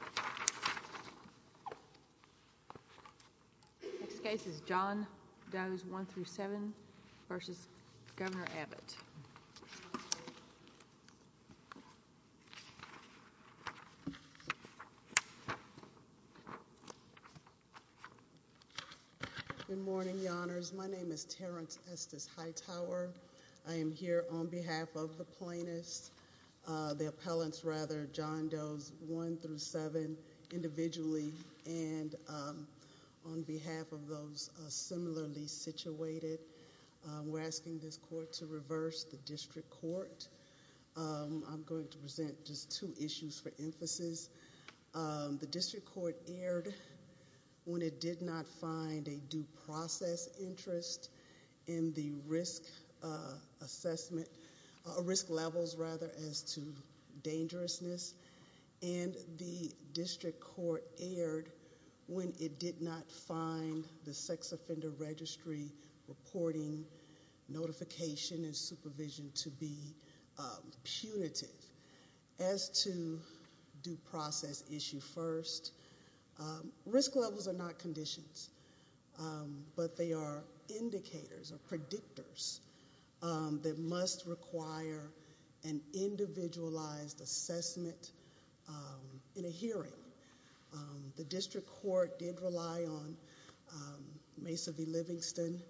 Good morning, your honors. My name is Terrence Estes Hightower. I am here on behalf of the District Court. We're asking this court to reverse the District Court. I'm going to present just two issues for emphasis. The District Court erred when it did not find a due process interest in the risk levels as to dangerousness. And the District Court erred when it did not find the sex offender registry reporting notification and supervision to be punitive. As to due process issue first, risk levels are not conditions, but they are indicators or predictors that must require an individualized assessment in a hearing. The District Court did rely on Mesa v. Livingston.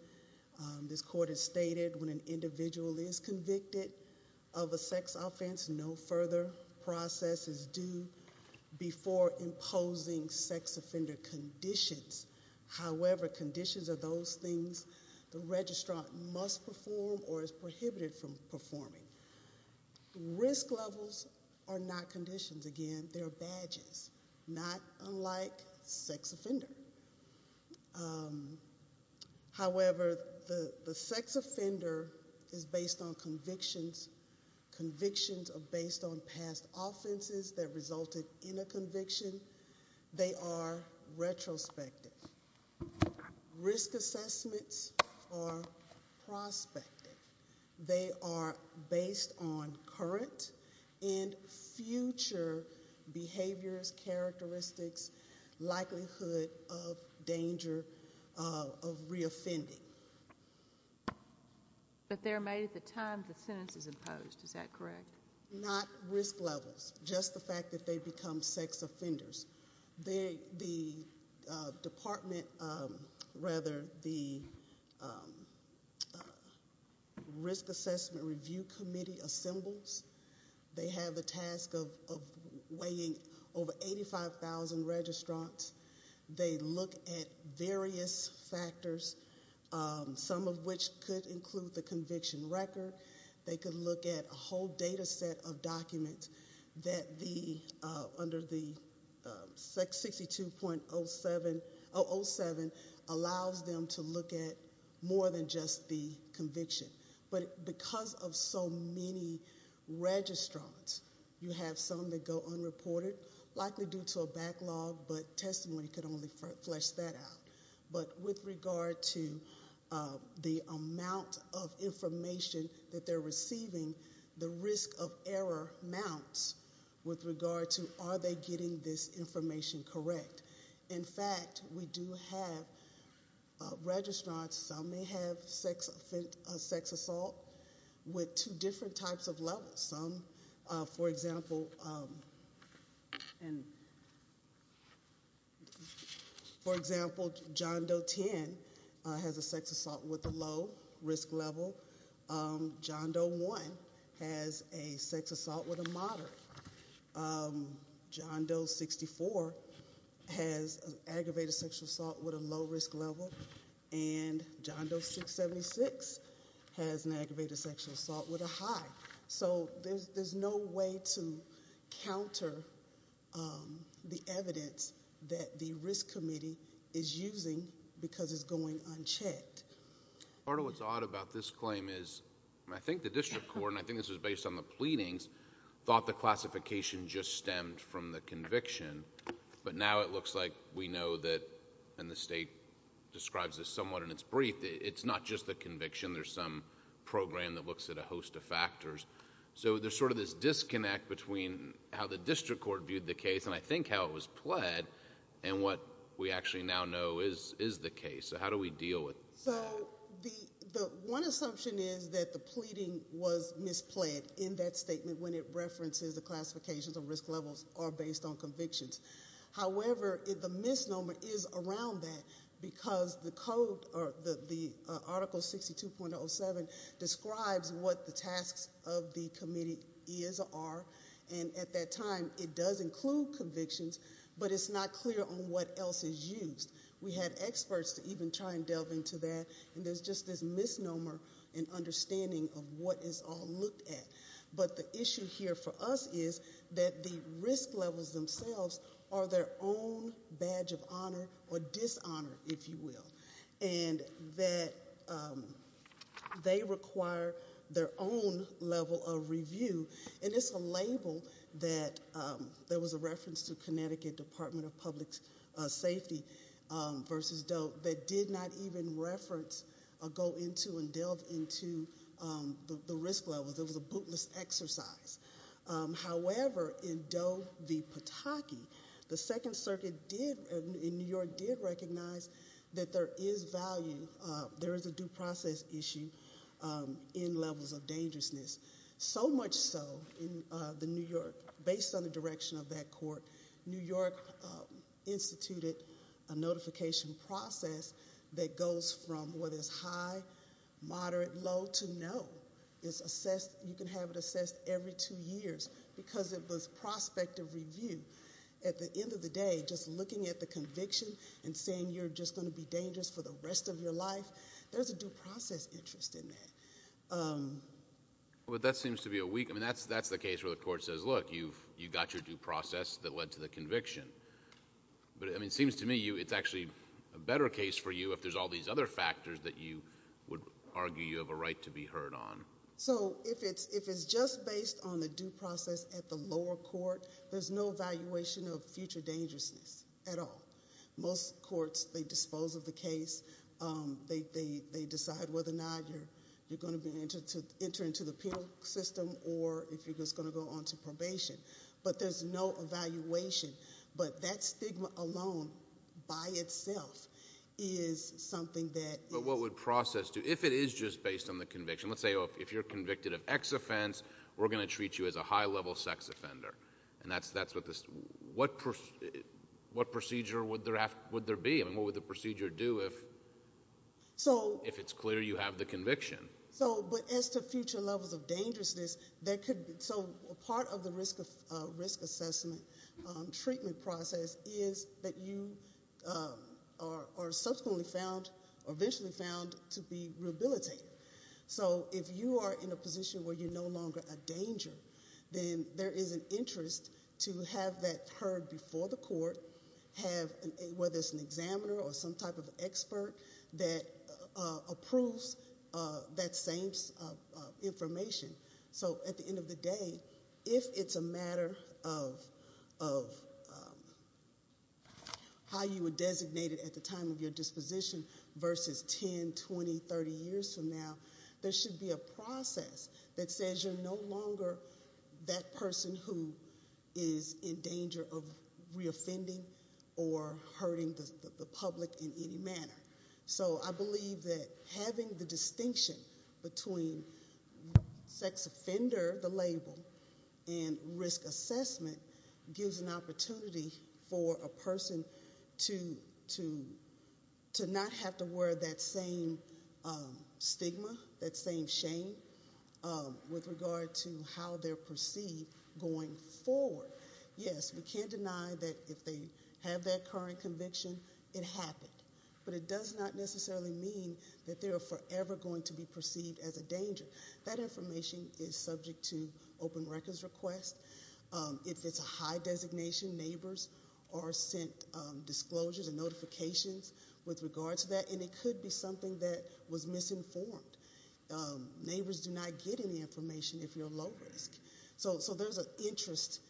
This court has stated when an individual is convicted of a sex offense, no further process is due before imposing sex offender conditions. However, conditions are those things the registrant must perform or is prohibited from performing. Risk levels are not conditions. Again, they are badges, not unlike sex offender. However, the sex offender is based on convictions. Convictions are based on past offenses that resulted in a conviction. They are retrospective. Risk assessments are prospective. They are based on current and future behaviors, characteristics, likelihood of danger of reoffending. But they're made at the time the sentence is imposed, is that correct? Not risk levels, just the fact that they become sex offenders. The department, rather, the Risk Assessment Review Committee assembles. They have the task of weighing over 85,000 registrants. They look at various factors, some of which could include the conviction record. They could look at a whole data set of documents that under the 62.07 allows them to look at more than just the conviction. But because of so many registrants, you have some that go unreported, likely due to a backlog, but testimony could only flesh that out. But with regard to the amount of information that they're receiving, the risk of error mounts with regard to are they getting this information correct. In fact, we do have registrants, some may have sex assault with two different types of levels. For example, John Doe 10 has a sex assault with a low risk level. John Doe 1 has a sex assault with a moderate. John Doe 64 has an aggravated sexual assault with a low risk level. And John Doe 676 has an aggravated sexual assault with a high. So there's no way to counter the evidence that the Risk Committee is using because it's going unchecked. Part of what's odd about this claim is I think the district court, and I think this is based on the pleadings, thought the classification just stemmed from the conviction. But now it looks like we know that, and the state describes this somewhat in its brief, it's not just the conviction. There's some program that looks at a host of factors. So there's sort of this disconnect between how the district court viewed the case, and I think how it was pled, and what we actually now know is the case. So how do we deal with that? So the one assumption is that the pleading was mispled in that statement when it references the classifications of risk levels are based on convictions. However, the misnomer is around that because the article 62.07 describes what the tasks of the committee is or are. And at that time, it does include convictions, but it's not clear on what else is used. We have experts to even try and delve into that, and there's just this misnomer in understanding of what is all looked at. But the issue here for us is that the risk levels themselves are their own badge of honor or dishonor, if you will, and that they require their own level of review, and it's a label that there was a reference to Connecticut Department of Public Safety versus DOE that did not even reference or go into and delve into the risk levels. It was a bootless exercise. However, in DOE v. Pataki, the Second Circuit in New York did recognize that there is value, there is a due process issue in levels of dangerousness. So much so, in New York, based on the direction of that court, New York instituted a notification process that goes from what is high, moderate, low to no. It's assessed, you can have it assessed every two years because it was prospective review. At the end of the day, just looking at the conviction and saying you're just going to be dangerous for the rest of your life, there's a due process interest in that. But that seems to be a weak, I mean, that's the case where the court says, look, you've got your due process that led to the conviction. But it seems to me it's actually a better case for you if there's all these other factors that you would argue you have a right to be heard on. So if it's just based on the due process at the lower court, there's no evaluation of future dangerousness at all. Most courts, they dispose of the case. They decide whether or not you're going to enter into the penal system or if you're just going to go on to probation. But there's no evaluation. But that stigma alone by itself is something that- But what would process do? If it is just based on the conviction, let's say if you're convicted of X offense, we're going to treat you as a high-level sex offender. And that's what this, what procedure would there be? I mean, what would the procedure do if it's clear you have the conviction? So, but as to future levels of dangerousness, there could be- So part of the risk assessment treatment process is that you are subsequently found or eventually found to be rehabilitated. So if you are in a position where you're no longer a danger, then there is an interest to have that heard before the court, whether it's an examiner or some type of expert that approves that same information. So at the end of the day, if it's a matter of how you were designated at the time of your disposition versus 10, 20, 30 years from now, there should be a process that says you're no longer that person who is in danger of reoffending or hurting the public in any manner. So I believe that having the distinction between sex offender, the label, and risk assessment gives an opportunity for a person to not have to wear that same stigma, that same shame with regard to how they're perceived going forward. Yes, we can't deny that if they have that current conviction, it happened. But it does not necessarily mean that they are forever going to be perceived as a danger. That information is subject to open records request. If it's a high designation, neighbors are sent disclosures and notifications with regard to that, and it could be something that was misinformed. Neighbors do not get any information if you're low risk. So there's an interest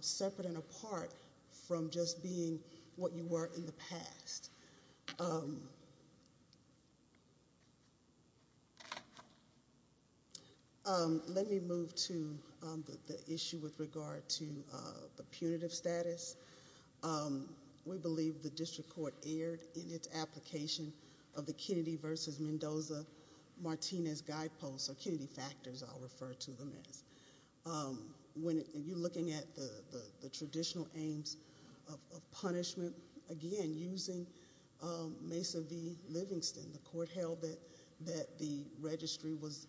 separate and apart from just being what you were in the past. Let me move to the issue with regard to the punitive status. We believe the district court erred in its application of the Kennedy versus Mendoza Martinez guideposts, or Kennedy factors I'll refer to them as. When you're looking at the traditional aims of punishment, again, using Mesa v. Livingston, the court held that the registry was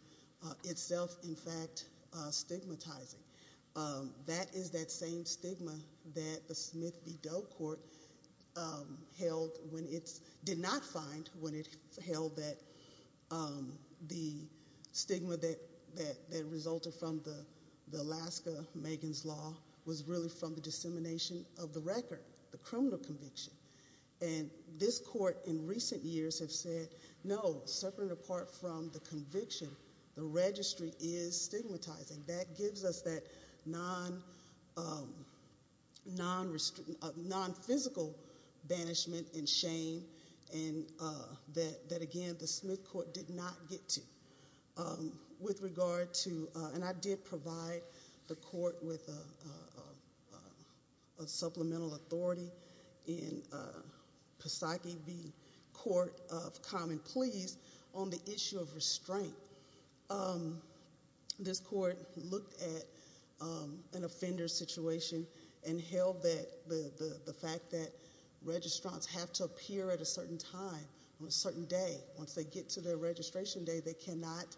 itself, in fact, stigmatizing. That is that same stigma that the Smith v. Doe court did not find when it held that the stigma that resulted from the Alaska Megan's Law was really from the dissemination of the record, the criminal conviction. This court in recent years have said, no, separate and apart from the conviction, the registry is stigmatizing. That gives us that non-physical banishment and shame that, again, the Smith court did not get to. I did provide the court with a supplemental authority in Pisaki v. Court of Common Pleas on the issue of restraint. This court looked at an offender's situation and held that the fact that registrants have to appear at a certain time on a certain day. Once they get to their registration day, they cannot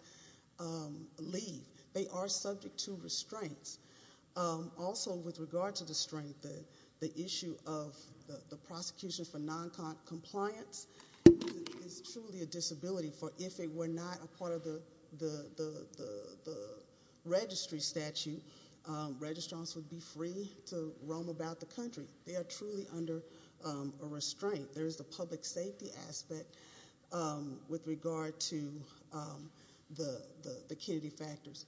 leave. They are subject to restraints. Also, with regard to the strength, the issue of the prosecution for non-compliance is truly a disability. If it were not a part of the registry statute, registrants would be free to roam about the country. They are truly under a restraint. There is the public safety aspect with regard to the Kennedy factors.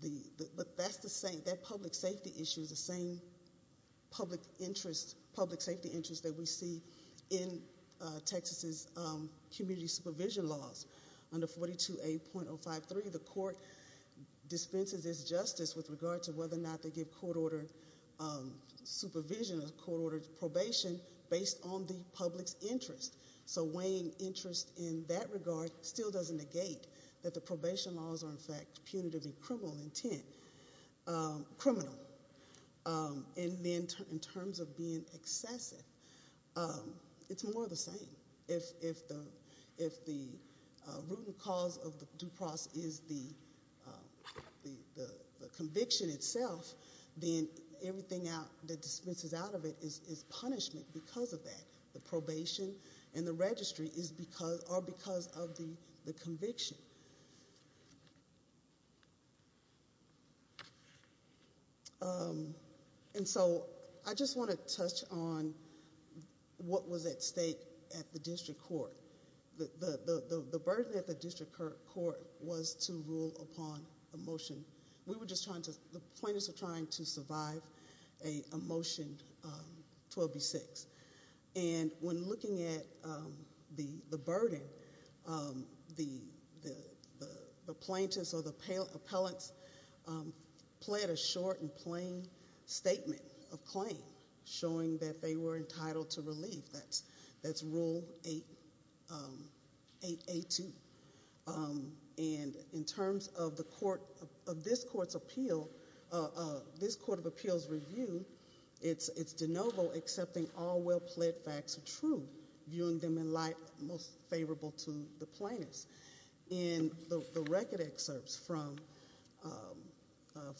That public safety issue is the same public safety interest that we see in Texas' community supervision laws. Under 42A.053, the court dispenses its justice with regard to whether or not they give court-ordered supervision or court-ordered probation based on the public's interest. Weighing interest in that regard still doesn't negate that the probation laws are, in fact, punitive in criminal intent. In terms of being excessive, it's more of the same. If the root and cause of the due process is the conviction itself, then everything that dispenses out of it is punishment because of that. The probation and the registry are because of the conviction. I just want to touch on what was at stake at the district court. The burden at the district court was to rule upon a motion. The plaintiffs were trying to survive a motion 12B.6. When looking at the burden, the plaintiffs or the appellants pled a short and plain statement of claim, showing that they were entitled to relief. That's Rule 8A.2. In terms of this court's appeal, this court of appeals review, it's de novo accepting all well-pled facts are true, viewing them in light most favorable to the plaintiffs. In the record excerpts from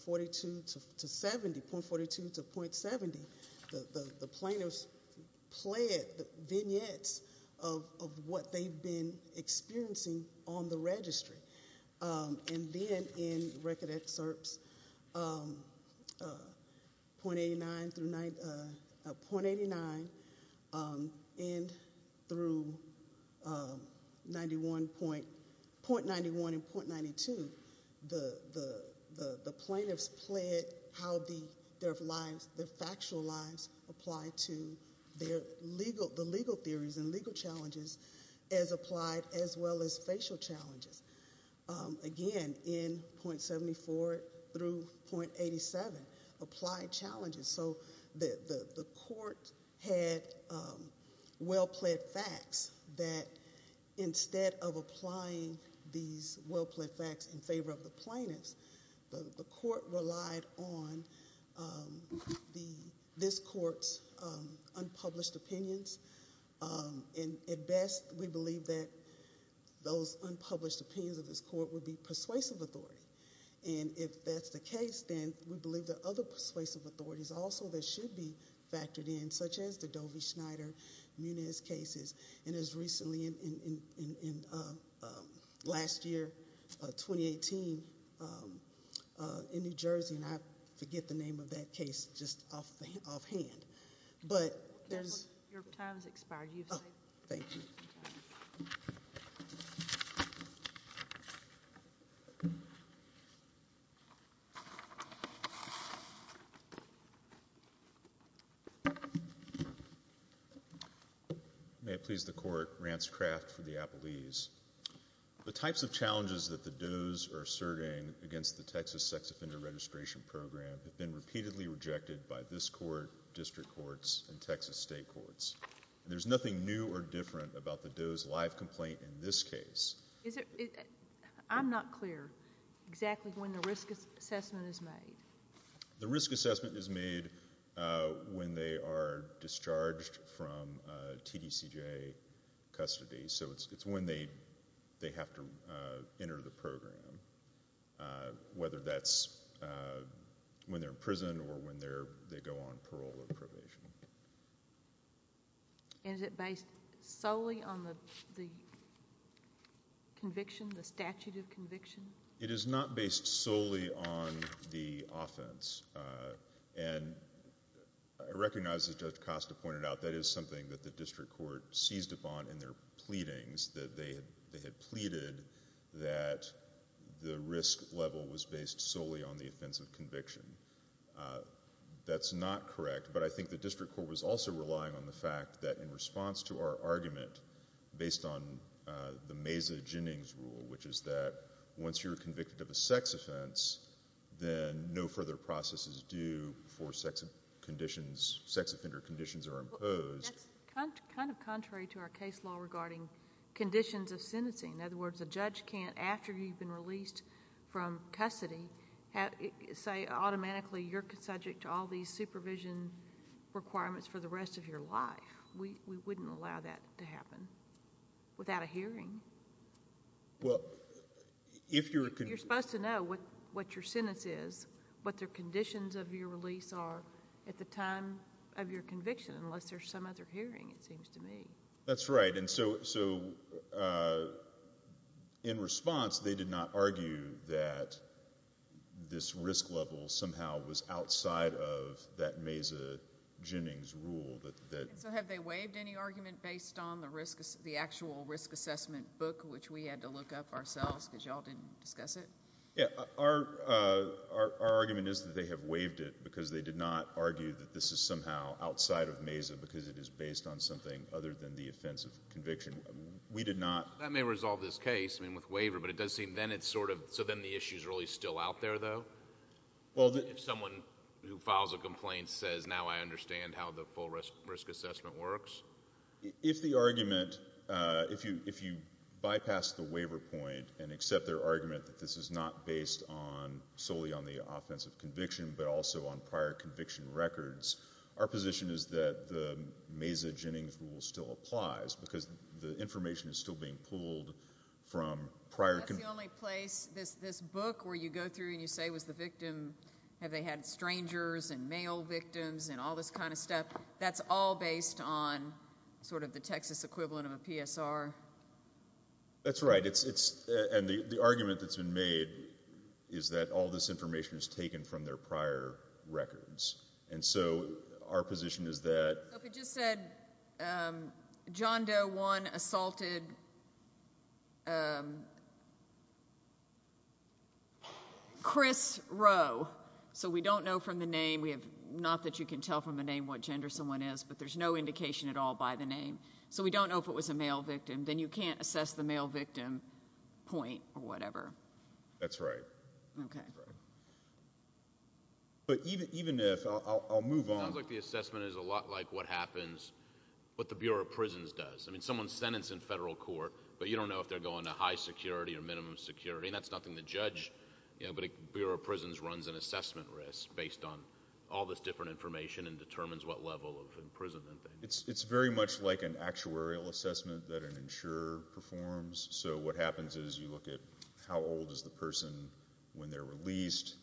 42 to 70, .42 to .70, the plaintiffs pled vignettes of what they've been experiencing on the registry. Then in record excerpts .89 through .91 and .92, the plaintiffs pled how their factual lives apply to the legal theories and legal challenges as applied as well as facial challenges. Again, in .74 through .87, applied challenges. The court had well-pled facts that instead of applying these well-pled facts in favor of the plaintiffs, the court relied on this court's unpublished opinions. At best, we believe that those unpublished opinions of this court would be persuasive authority. If that's the case, then we believe there are other persuasive authorities also that should be factored in, such as the Dovey-Schneider-Munez cases. It was recently in last year, 2018, in New Jersey. I forget the name of that case just offhand. Your time has expired. Thank you. May it please the court, Rance Craft for the Appellees. The types of challenges that the does are asserting against the Texas Sex Offender Registration Program have been repeatedly rejected by this court, district courts, and Texas state courts. There's nothing new or different about the does' live complaint in this case. I'm not clear exactly when the risk assessment is made. The risk assessment is made when they are discharged from TDCJA custody, so it's when they have to enter the program, whether that's when they're in prison or when they go on parole or probation. Is it based solely on the conviction, the statute of conviction? It is not based solely on the offense. I recognize, as Judge Costa pointed out, that is something that the district court seized upon in their pleadings, that they had pleaded that the risk level was based solely on the offense of conviction. That's not correct, but I think the district court was also relying on the fact that, in response to our argument based on the Meza-Jennings rule, which is that once you're convicted of a sex offense, then no further process is due before sex offender conditions are imposed. That's kind of contrary to our case law regarding conditions of sentencing. In other words, a judge can't, after you've been released from custody, say automatically you're subject to all these supervision requirements for the rest of your life. We wouldn't allow that to happen without a hearing. Well, if you're— You're supposed to know what your sentence is, what the conditions of your release are at the time of your conviction, unless there's some other hearing, it seems to me. That's right, and so in response, they did not argue that this risk level somehow was outside of that Meza-Jennings rule. So have they waived any argument based on the actual risk assessment book, which we had to look up ourselves because you all didn't discuss it? Yeah, our argument is that they have waived it because they did not argue that this is somehow outside of Meza because it is based on something other than the offense of conviction. We did not— That may resolve this case, I mean, with waiver, but it does seem then it's sort of— So then the issue's really still out there, though? If someone who files a complaint says, now I understand how the full risk assessment works? If the argument—if you bypass the waiver point and accept their argument that this is not based solely on the offense of conviction but also on prior conviction records, our position is that the Meza-Jennings rule still applies because the information is still being pulled from prior— That's the only place—this book where you go through and you say, was the victim—have they had strangers and male victims and all this kind of stuff? That's all based on sort of the Texas equivalent of a PSR? That's right, and the argument that's been made is that all this information is taken from their prior records. And so our position is that— Chris Rowe, so we don't know from the name. We have—not that you can tell from the name what gender someone is, but there's no indication at all by the name. So we don't know if it was a male victim. Then you can't assess the male victim point or whatever. That's right. Okay. That's right. But even if—I'll move on. It sounds like the assessment is a lot like what happens—what the Bureau of Prisons does. I mean, someone's sentenced in federal court, but you don't know if they're going to high security or minimum security, and that's nothing to judge. But the Bureau of Prisons runs an assessment risk based on all this different information and determines what level of imprisonment they— It's very much like an actuarial assessment that an insurer performs. So what happens is you look at how old is the person when they're released,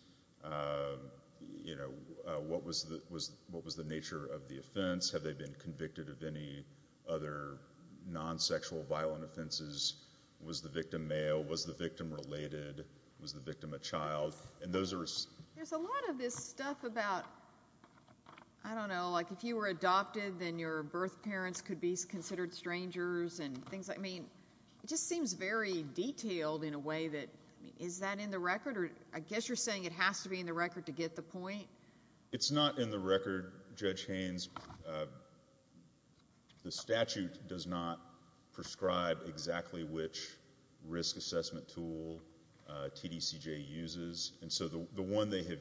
what was the nature of the offense, have they been convicted of any other non-sexual violent offenses, was the victim male, was the victim related, was the victim a child, and those are— There's a lot of this stuff about, I don't know, like if you were adopted then your birth parents could be considered strangers and things like— I mean, it just seems very detailed in a way that— I mean, is that in the record? I guess you're saying it has to be in the record to get the point. It's not in the record, Judge Haynes. The statute does not prescribe exactly which risk assessment tool TDCJ uses, and so the one they have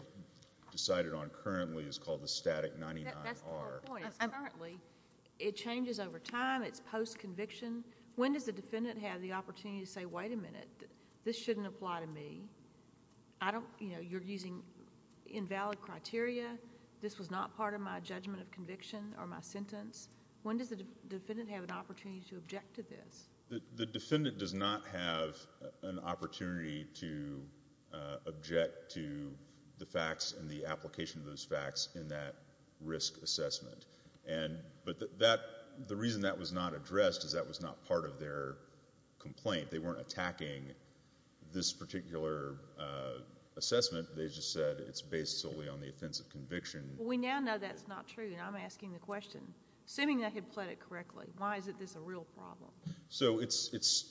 decided on currently is called the static 99R. That's the whole point. Apparently, it changes over time. It's post-conviction. When does the defendant have the opportunity to say, Wait a minute, this shouldn't apply to me. You're using invalid criteria. This was not part of my judgment of conviction or my sentence. When does the defendant have an opportunity to object to this? The defendant does not have an opportunity to object to the facts and the application of those facts in that risk assessment. But the reason that was not addressed is that was not part of their complaint. They weren't attacking this particular assessment. They just said it's based solely on the offense of conviction. Well, we now know that's not true, and I'm asking the question. Assuming they had pled it correctly, why is this a real problem? So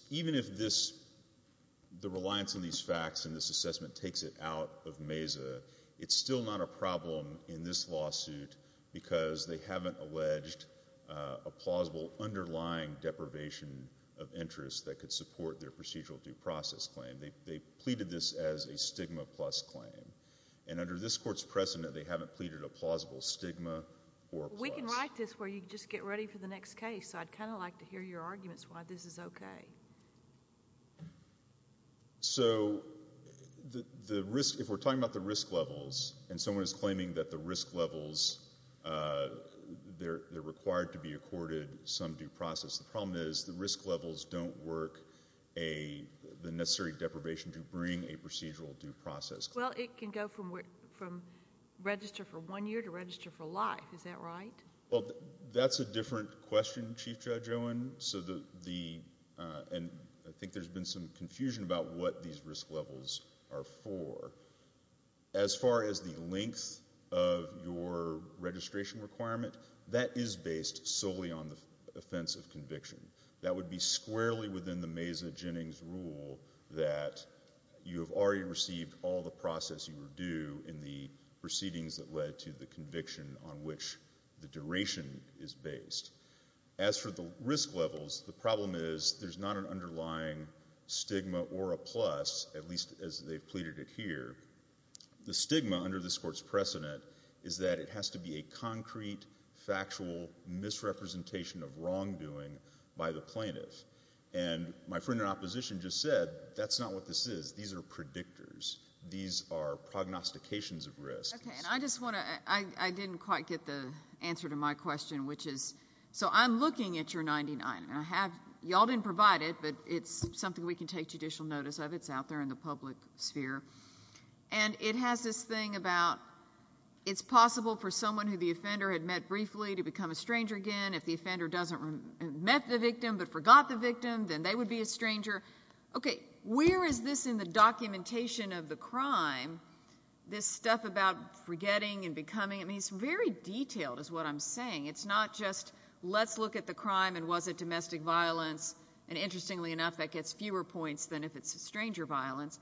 even if the reliance on these facts and this assessment takes it out of MESA, it's still not a problem in this lawsuit because they haven't alleged a plausible underlying deprivation of interest that could support their procedural due process claim. They pleaded this as a stigma plus claim, and under this Court's precedent they haven't pleaded a plausible stigma or plus. We can write this where you just get ready for the next case, so I'd kind of like to hear your arguments why this is okay. So if we're talking about the risk levels and someone is claiming that the risk levels, they're required to be accorded some due process, the problem is the risk levels don't work the necessary deprivation to bring a procedural due process claim. Well, it can go from register for one year to register for life. Is that right? Well, that's a different question, Chief Judge Owen. And I think there's been some confusion about what these risk levels are for. As far as the length of your registration requirement, that is based solely on the offense of conviction. That would be squarely within the Mesa-Jennings rule that you have already received all the process you were due in the proceedings that led to the conviction on which the duration is based. As for the risk levels, the problem is there's not an underlying stigma or a plus, at least as they've pleaded it here. The stigma under this Court's precedent is that it has to be a concrete, factual misrepresentation of wrongdoing by the plaintiff. And my friend in opposition just said that's not what this is. These are predictors. These are prognostications of risk. Okay, and I didn't quite get the answer to my question, which is, so I'm looking at your 99, and y'all didn't provide it, but it's something we can take judicial notice of. It's out there in the public sphere. And it has this thing about it's possible for someone who the offender had met briefly to become a stranger again. If the offender met the victim but forgot the victim, then they would be a stranger. Okay, where is this in the documentation of the crime, this stuff about forgetting and becoming? I mean, it's very detailed is what I'm saying. It's not just let's look at the crime and was it domestic violence, and interestingly enough, that gets fewer points than if it's stranger violence.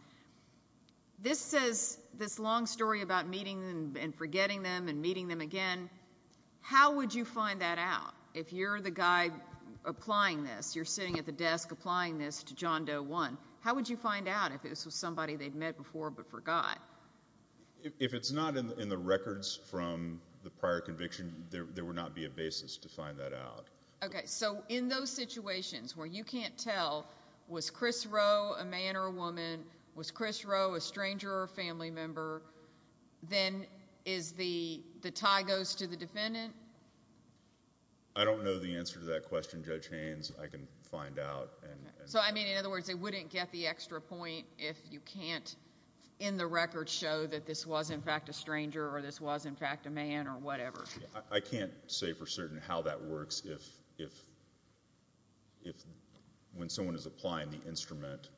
This says this long story about meeting and forgetting them and meeting them again. How would you find that out if you're the guy applying this, you're sitting at the desk applying this to John Doe 1? How would you find out if this was somebody they'd met before but forgot? If it's not in the records from the prior conviction, there would not be a basis to find that out. Okay, so in those situations where you can't tell was Chris Rowe a man or a woman, was Chris Rowe a stranger or a family member, then the tie goes to the defendant? I don't know the answer to that question, Judge Haynes. I can find out. So, I mean, in other words, they wouldn't get the extra point if you can't in the records show that this was in fact a stranger or this was in fact a man or whatever? I can't say for certain how that works. If when someone is applying the instrument,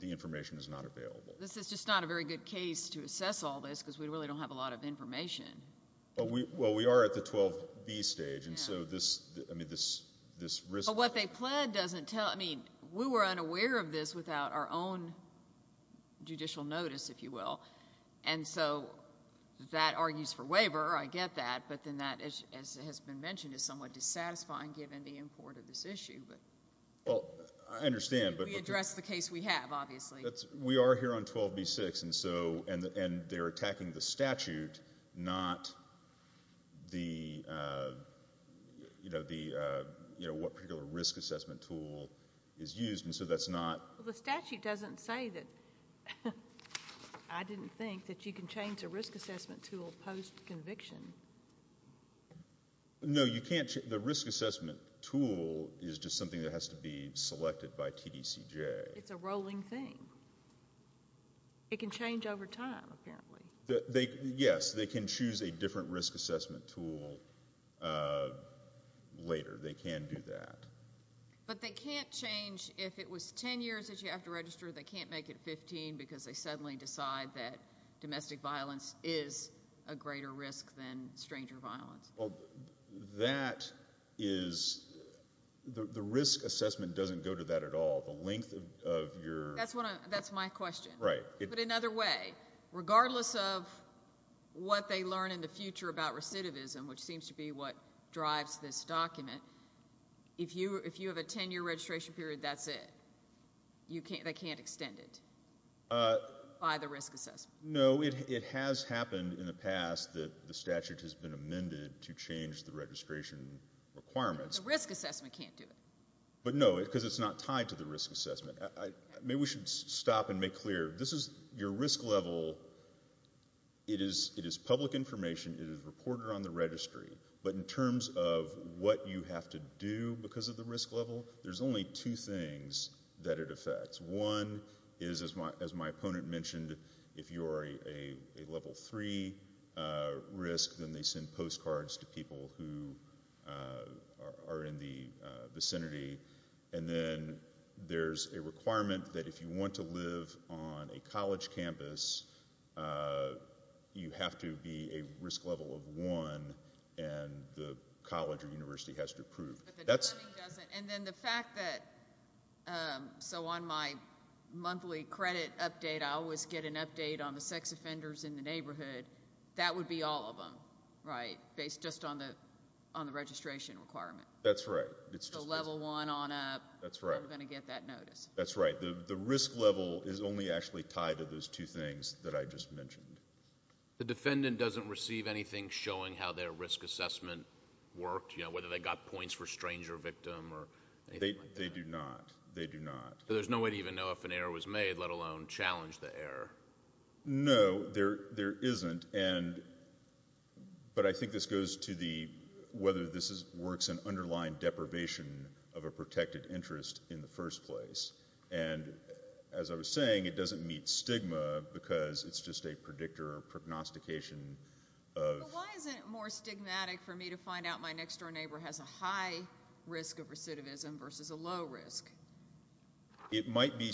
the information is not available. This is just not a very good case to assess all this because we really don't have a lot of information. Well, we are at the 12B stage, and so this risk— But what they pled doesn't tell— I mean, we were unaware of this without our own judicial notice, if you will, and so that argues for waiver, I get that, but then that, as has been mentioned, is somewhat dissatisfying given the import of this issue. Well, I understand, but— We address the case we have, obviously. We are here on 12B-6, and they're attacking the statute, not what particular risk assessment tool is used, and so that's not— Well, the statute doesn't say that— I didn't think that you can change a risk assessment tool post-conviction. No, you can't. The risk assessment tool is just something that has to be selected by TDCJ. It's a rolling thing. It can change over time, apparently. Yes, they can choose a different risk assessment tool later. They can do that. But they can't change—if it was 10 years that you have to register, they can't make it 15 because they suddenly decide that domestic violence is a greater risk than stranger violence. Well, that is—the risk assessment doesn't go to that at all. The length of your— That's my question. Right. But another way, regardless of what they learn in the future about recidivism, which seems to be what drives this document, if you have a 10-year registration period, that's it. They can't extend it by the risk assessment. No, it has happened in the past that the statute has been amended to change the registration requirements. The risk assessment can't do it. But, no, because it's not tied to the risk assessment. Maybe we should stop and make clear. This is your risk level. It is public information. It is reported on the registry. But in terms of what you have to do because of the risk level, there's only two things that it affects. One is, as my opponent mentioned, if you're a level 3 risk, then they send postcards to people who are in the vicinity. And then there's a requirement that if you want to live on a college campus, you have to be a risk level of 1, and the college or university has to approve. And then the fact that, so on my monthly credit update, I always get an update on the sex offenders in the neighborhood. That would be all of them, right, based just on the registration requirement. That's right. So level 1 on up, we're going to get that notice. That's right. The risk level is only actually tied to those two things that I just mentioned. The defendant doesn't receive anything showing how their risk assessment worked, whether they got points for stranger victim or anything like that? They do not. They do not. So there's no way to even know if an error was made, let alone challenge the error. No, there isn't. But I think this goes to whether this works in underlying deprivation of a protected interest in the first place. And as I was saying, it doesn't meet stigma because it's just a predictor or prognostication of. But why isn't it more stigmatic for me to find out my next-door neighbor has a high risk of recidivism versus a low risk? It might be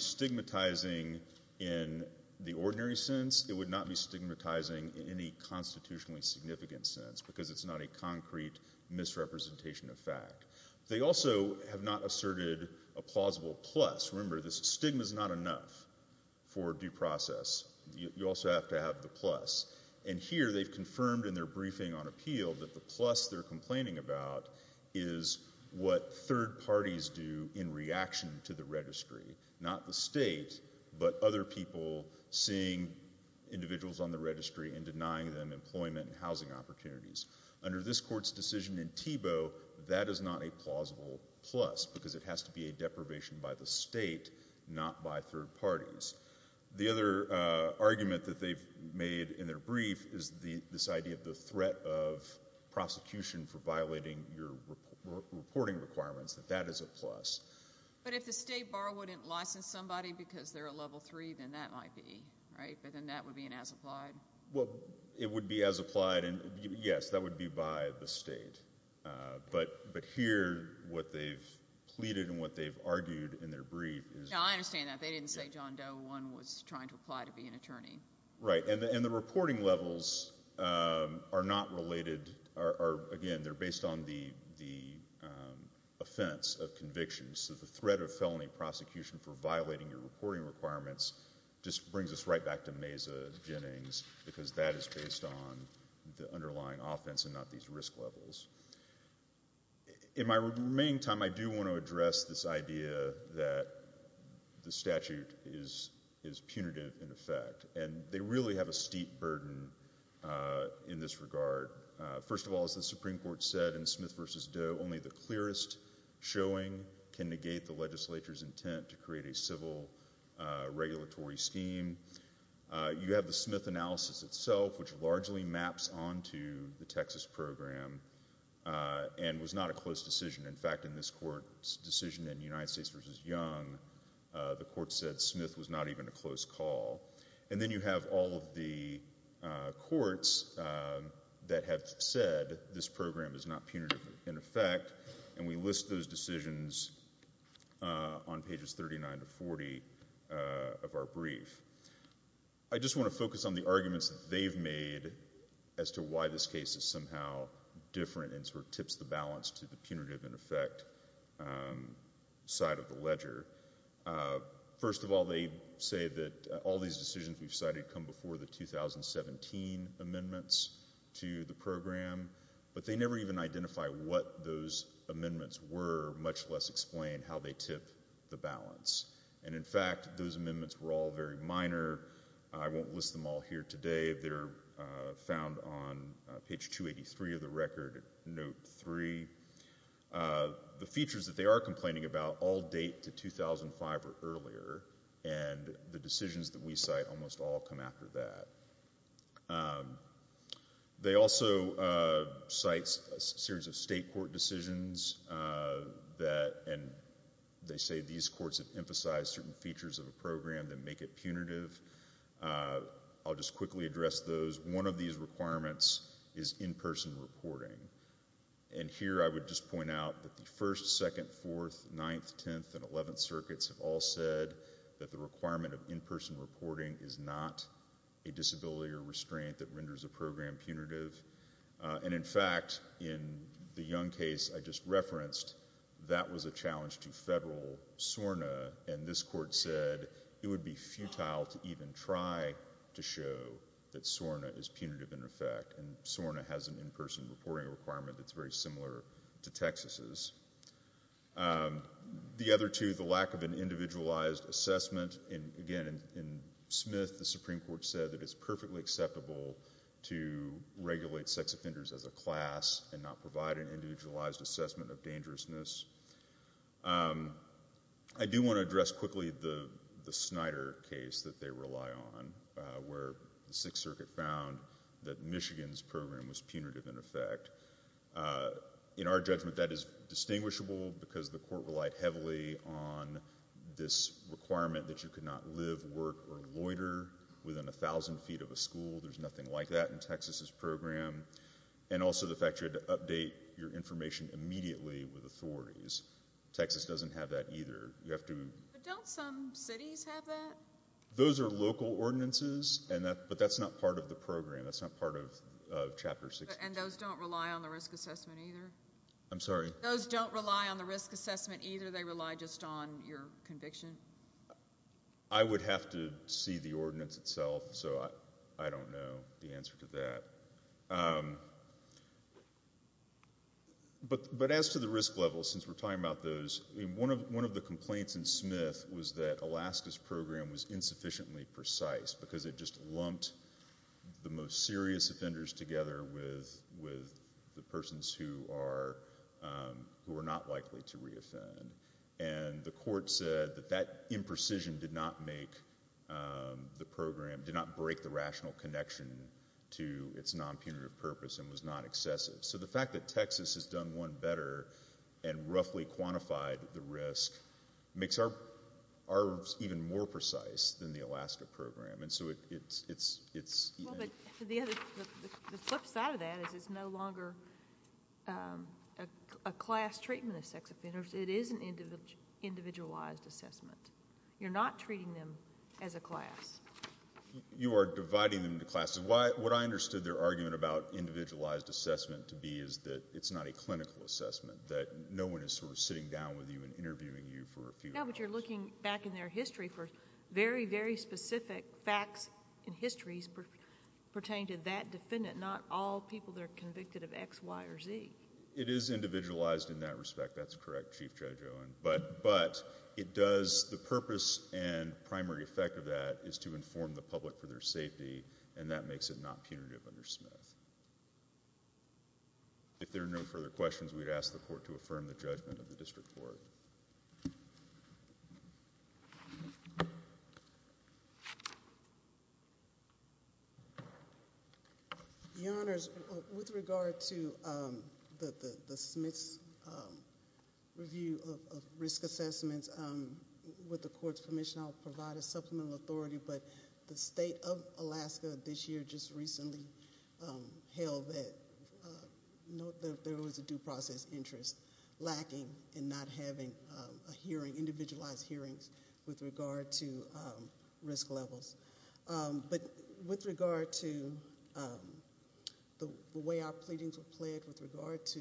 stigmatizing in the ordinary sense. It would not be stigmatizing in any constitutionally significant sense because it's not a concrete misrepresentation of fact. They also have not asserted a plausible plus. Remember, the stigma is not enough for due process. You also have to have the plus. And here they've confirmed in their briefing on appeal that the plus they're complaining about is what third parties do in reaction to the registry, not the state, but other people seeing individuals on the registry and denying them employment and housing opportunities. Under this court's decision in Tebow, that is not a plausible plus because it has to be a deprivation by the state, not by third parties. The other argument that they've made in their brief is this idea of the threat of prosecution for violating your reporting requirements, that that is a plus. But if the state bar wouldn't license somebody because they're a level three, then that might be, right? But then that would be an as-applied? It would be as-applied, and yes, that would be by the state. But here what they've pleaded and what they've argued in their brief is— I understand that. They didn't say John Doe I was trying to apply to be an attorney. Right. And the reporting levels are not related. Again, they're based on the offense of conviction. So the threat of felony prosecution for violating your reporting requirements just brings us right back to Maza Jennings because that is based on the underlying offense and not these risk levels. In my remaining time, I do want to address this idea that the statute is punitive in effect, and they really have a steep burden in this regard. First of all, as the Supreme Court said in Smith v. Doe, only the clearest showing can negate the legislature's intent to create a civil regulatory scheme. You have the Smith analysis itself, which largely maps onto the Texas program and was not a close decision. In fact, in this court's decision in United States v. Young, the court said Smith was not even a close call. And then you have all of the courts that have said this program is not punitive in effect, and we list those decisions on pages 39 to 40 of our brief. I just want to focus on the arguments that they've made as to why this case is somehow different and sort of tips the balance to the punitive in effect side of the ledger. First of all, they say that all these decisions we've cited come before the 2017 amendments to the program, but they never even identify what those amendments were, much less explain how they tip the balance. And in fact, those amendments were all very minor. I won't list them all here today. They're found on page 283 of the record, note 3. The features that they are complaining about all date to 2005 or earlier, and the decisions that we cite almost all come after that. They also cite a series of state court decisions and they say these courts have emphasized certain features of the program that make it punitive. I'll just quickly address those. One of these requirements is in-person reporting. And here I would just point out that the 1st, 2nd, 4th, 9th, 10th, and 11th circuits have all said that the requirement of in-person reporting is not a disability or restraint that renders a program punitive. And in fact, in the Young case I just referenced, that was a challenge to federal SORNA, and this court said it would be futile to even try to show that SORNA is punitive in effect and SORNA has an in-person reporting requirement that's very similar to Texas'. The other two, the lack of an individualized assessment. Again, in Smith, the Supreme Court said that it's perfectly acceptable to regulate sex offenders as a class and not provide an individualized assessment of dangerousness. I do want to address quickly the Snyder case that they rely on, where the 6th Circuit found that Michigan's program was punitive in effect. In our judgment, that is distinguishable because the court relied heavily on this requirement that you could not live, work, or loiter within 1,000 feet of a school. There's nothing like that in Texas' program. And also the fact you had to update your information immediately with authorities. Texas doesn't have that either. But don't some cities have that? Those are local ordinances, but that's not part of the program. That's not part of Chapter 6. And those don't rely on the risk assessment either? I'm sorry? Those don't rely on the risk assessment either? They rely just on your conviction? I would have to see the ordinance itself, so I don't know the answer to that. But as to the risk level, since we're talking about those, one of the complaints in Smith was that Alaska's program was insufficiently precise because it just lumped the most serious offenders together with the persons who are not likely to reoffend. And the court said that that imprecision did not make the program, did not break the rational connection to its non-punitive purpose and was not excessive. So the fact that Texas has done one better and roughly quantified the risk makes ours even more precise than the Alaska program. The flip side of that is it's no longer a class treatment of sex offenders. It is an individualized assessment. You're not treating them as a class. You are dividing them into classes. What I understood their argument about individualized assessment to be is that it's not a clinical assessment, that no one is sort of sitting down with you and interviewing you for a few hours. No, but you're looking back in their history for very, very specific facts and histories pertaining to that defendant, not all people that are convicted of X, Y, or Z. It is individualized in that respect. That's correct, Chief Judge Owen. But the purpose and primary effect of that is to inform the public for their safety, and that makes it not punitive under Smith. If there are no further questions, we'd ask the Court to affirm the judgment of the District Court. Your Honors, with regard to the Smith's review of risk assessments, with the Court's permission, I'll provide a supplemental authority, but the State of Alaska this year just recently held that there was a due process interest lacking in not having individualized hearings with regard to risk levels. But with regard to the way our pleadings were pled with regard to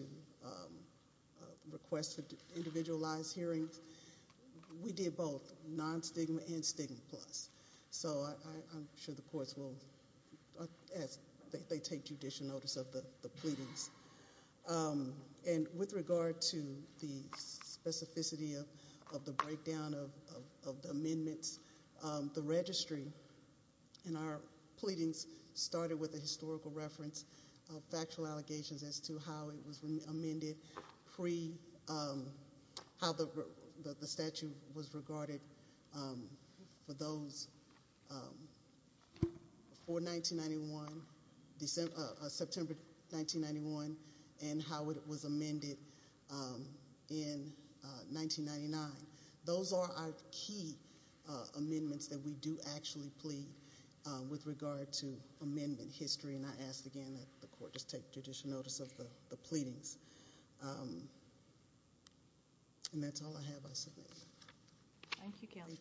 requests for individualized hearings, we did both non-stigma and stigma plus. So I'm sure the courts will, as they take judicial notice of the pleadings. And with regard to the specificity of the breakdown of the amendments, the registry in our pleadings started with a historical reference of factual allegations as to how the statute was regarded for September 1991 and how it was amended in 1999. Those are our key amendments that we do actually plead with regard to amendment history. And I ask again that the Court just take judicial notice of the pleadings. And that's all I have. I submit. Thank you, Kelly. Thank you.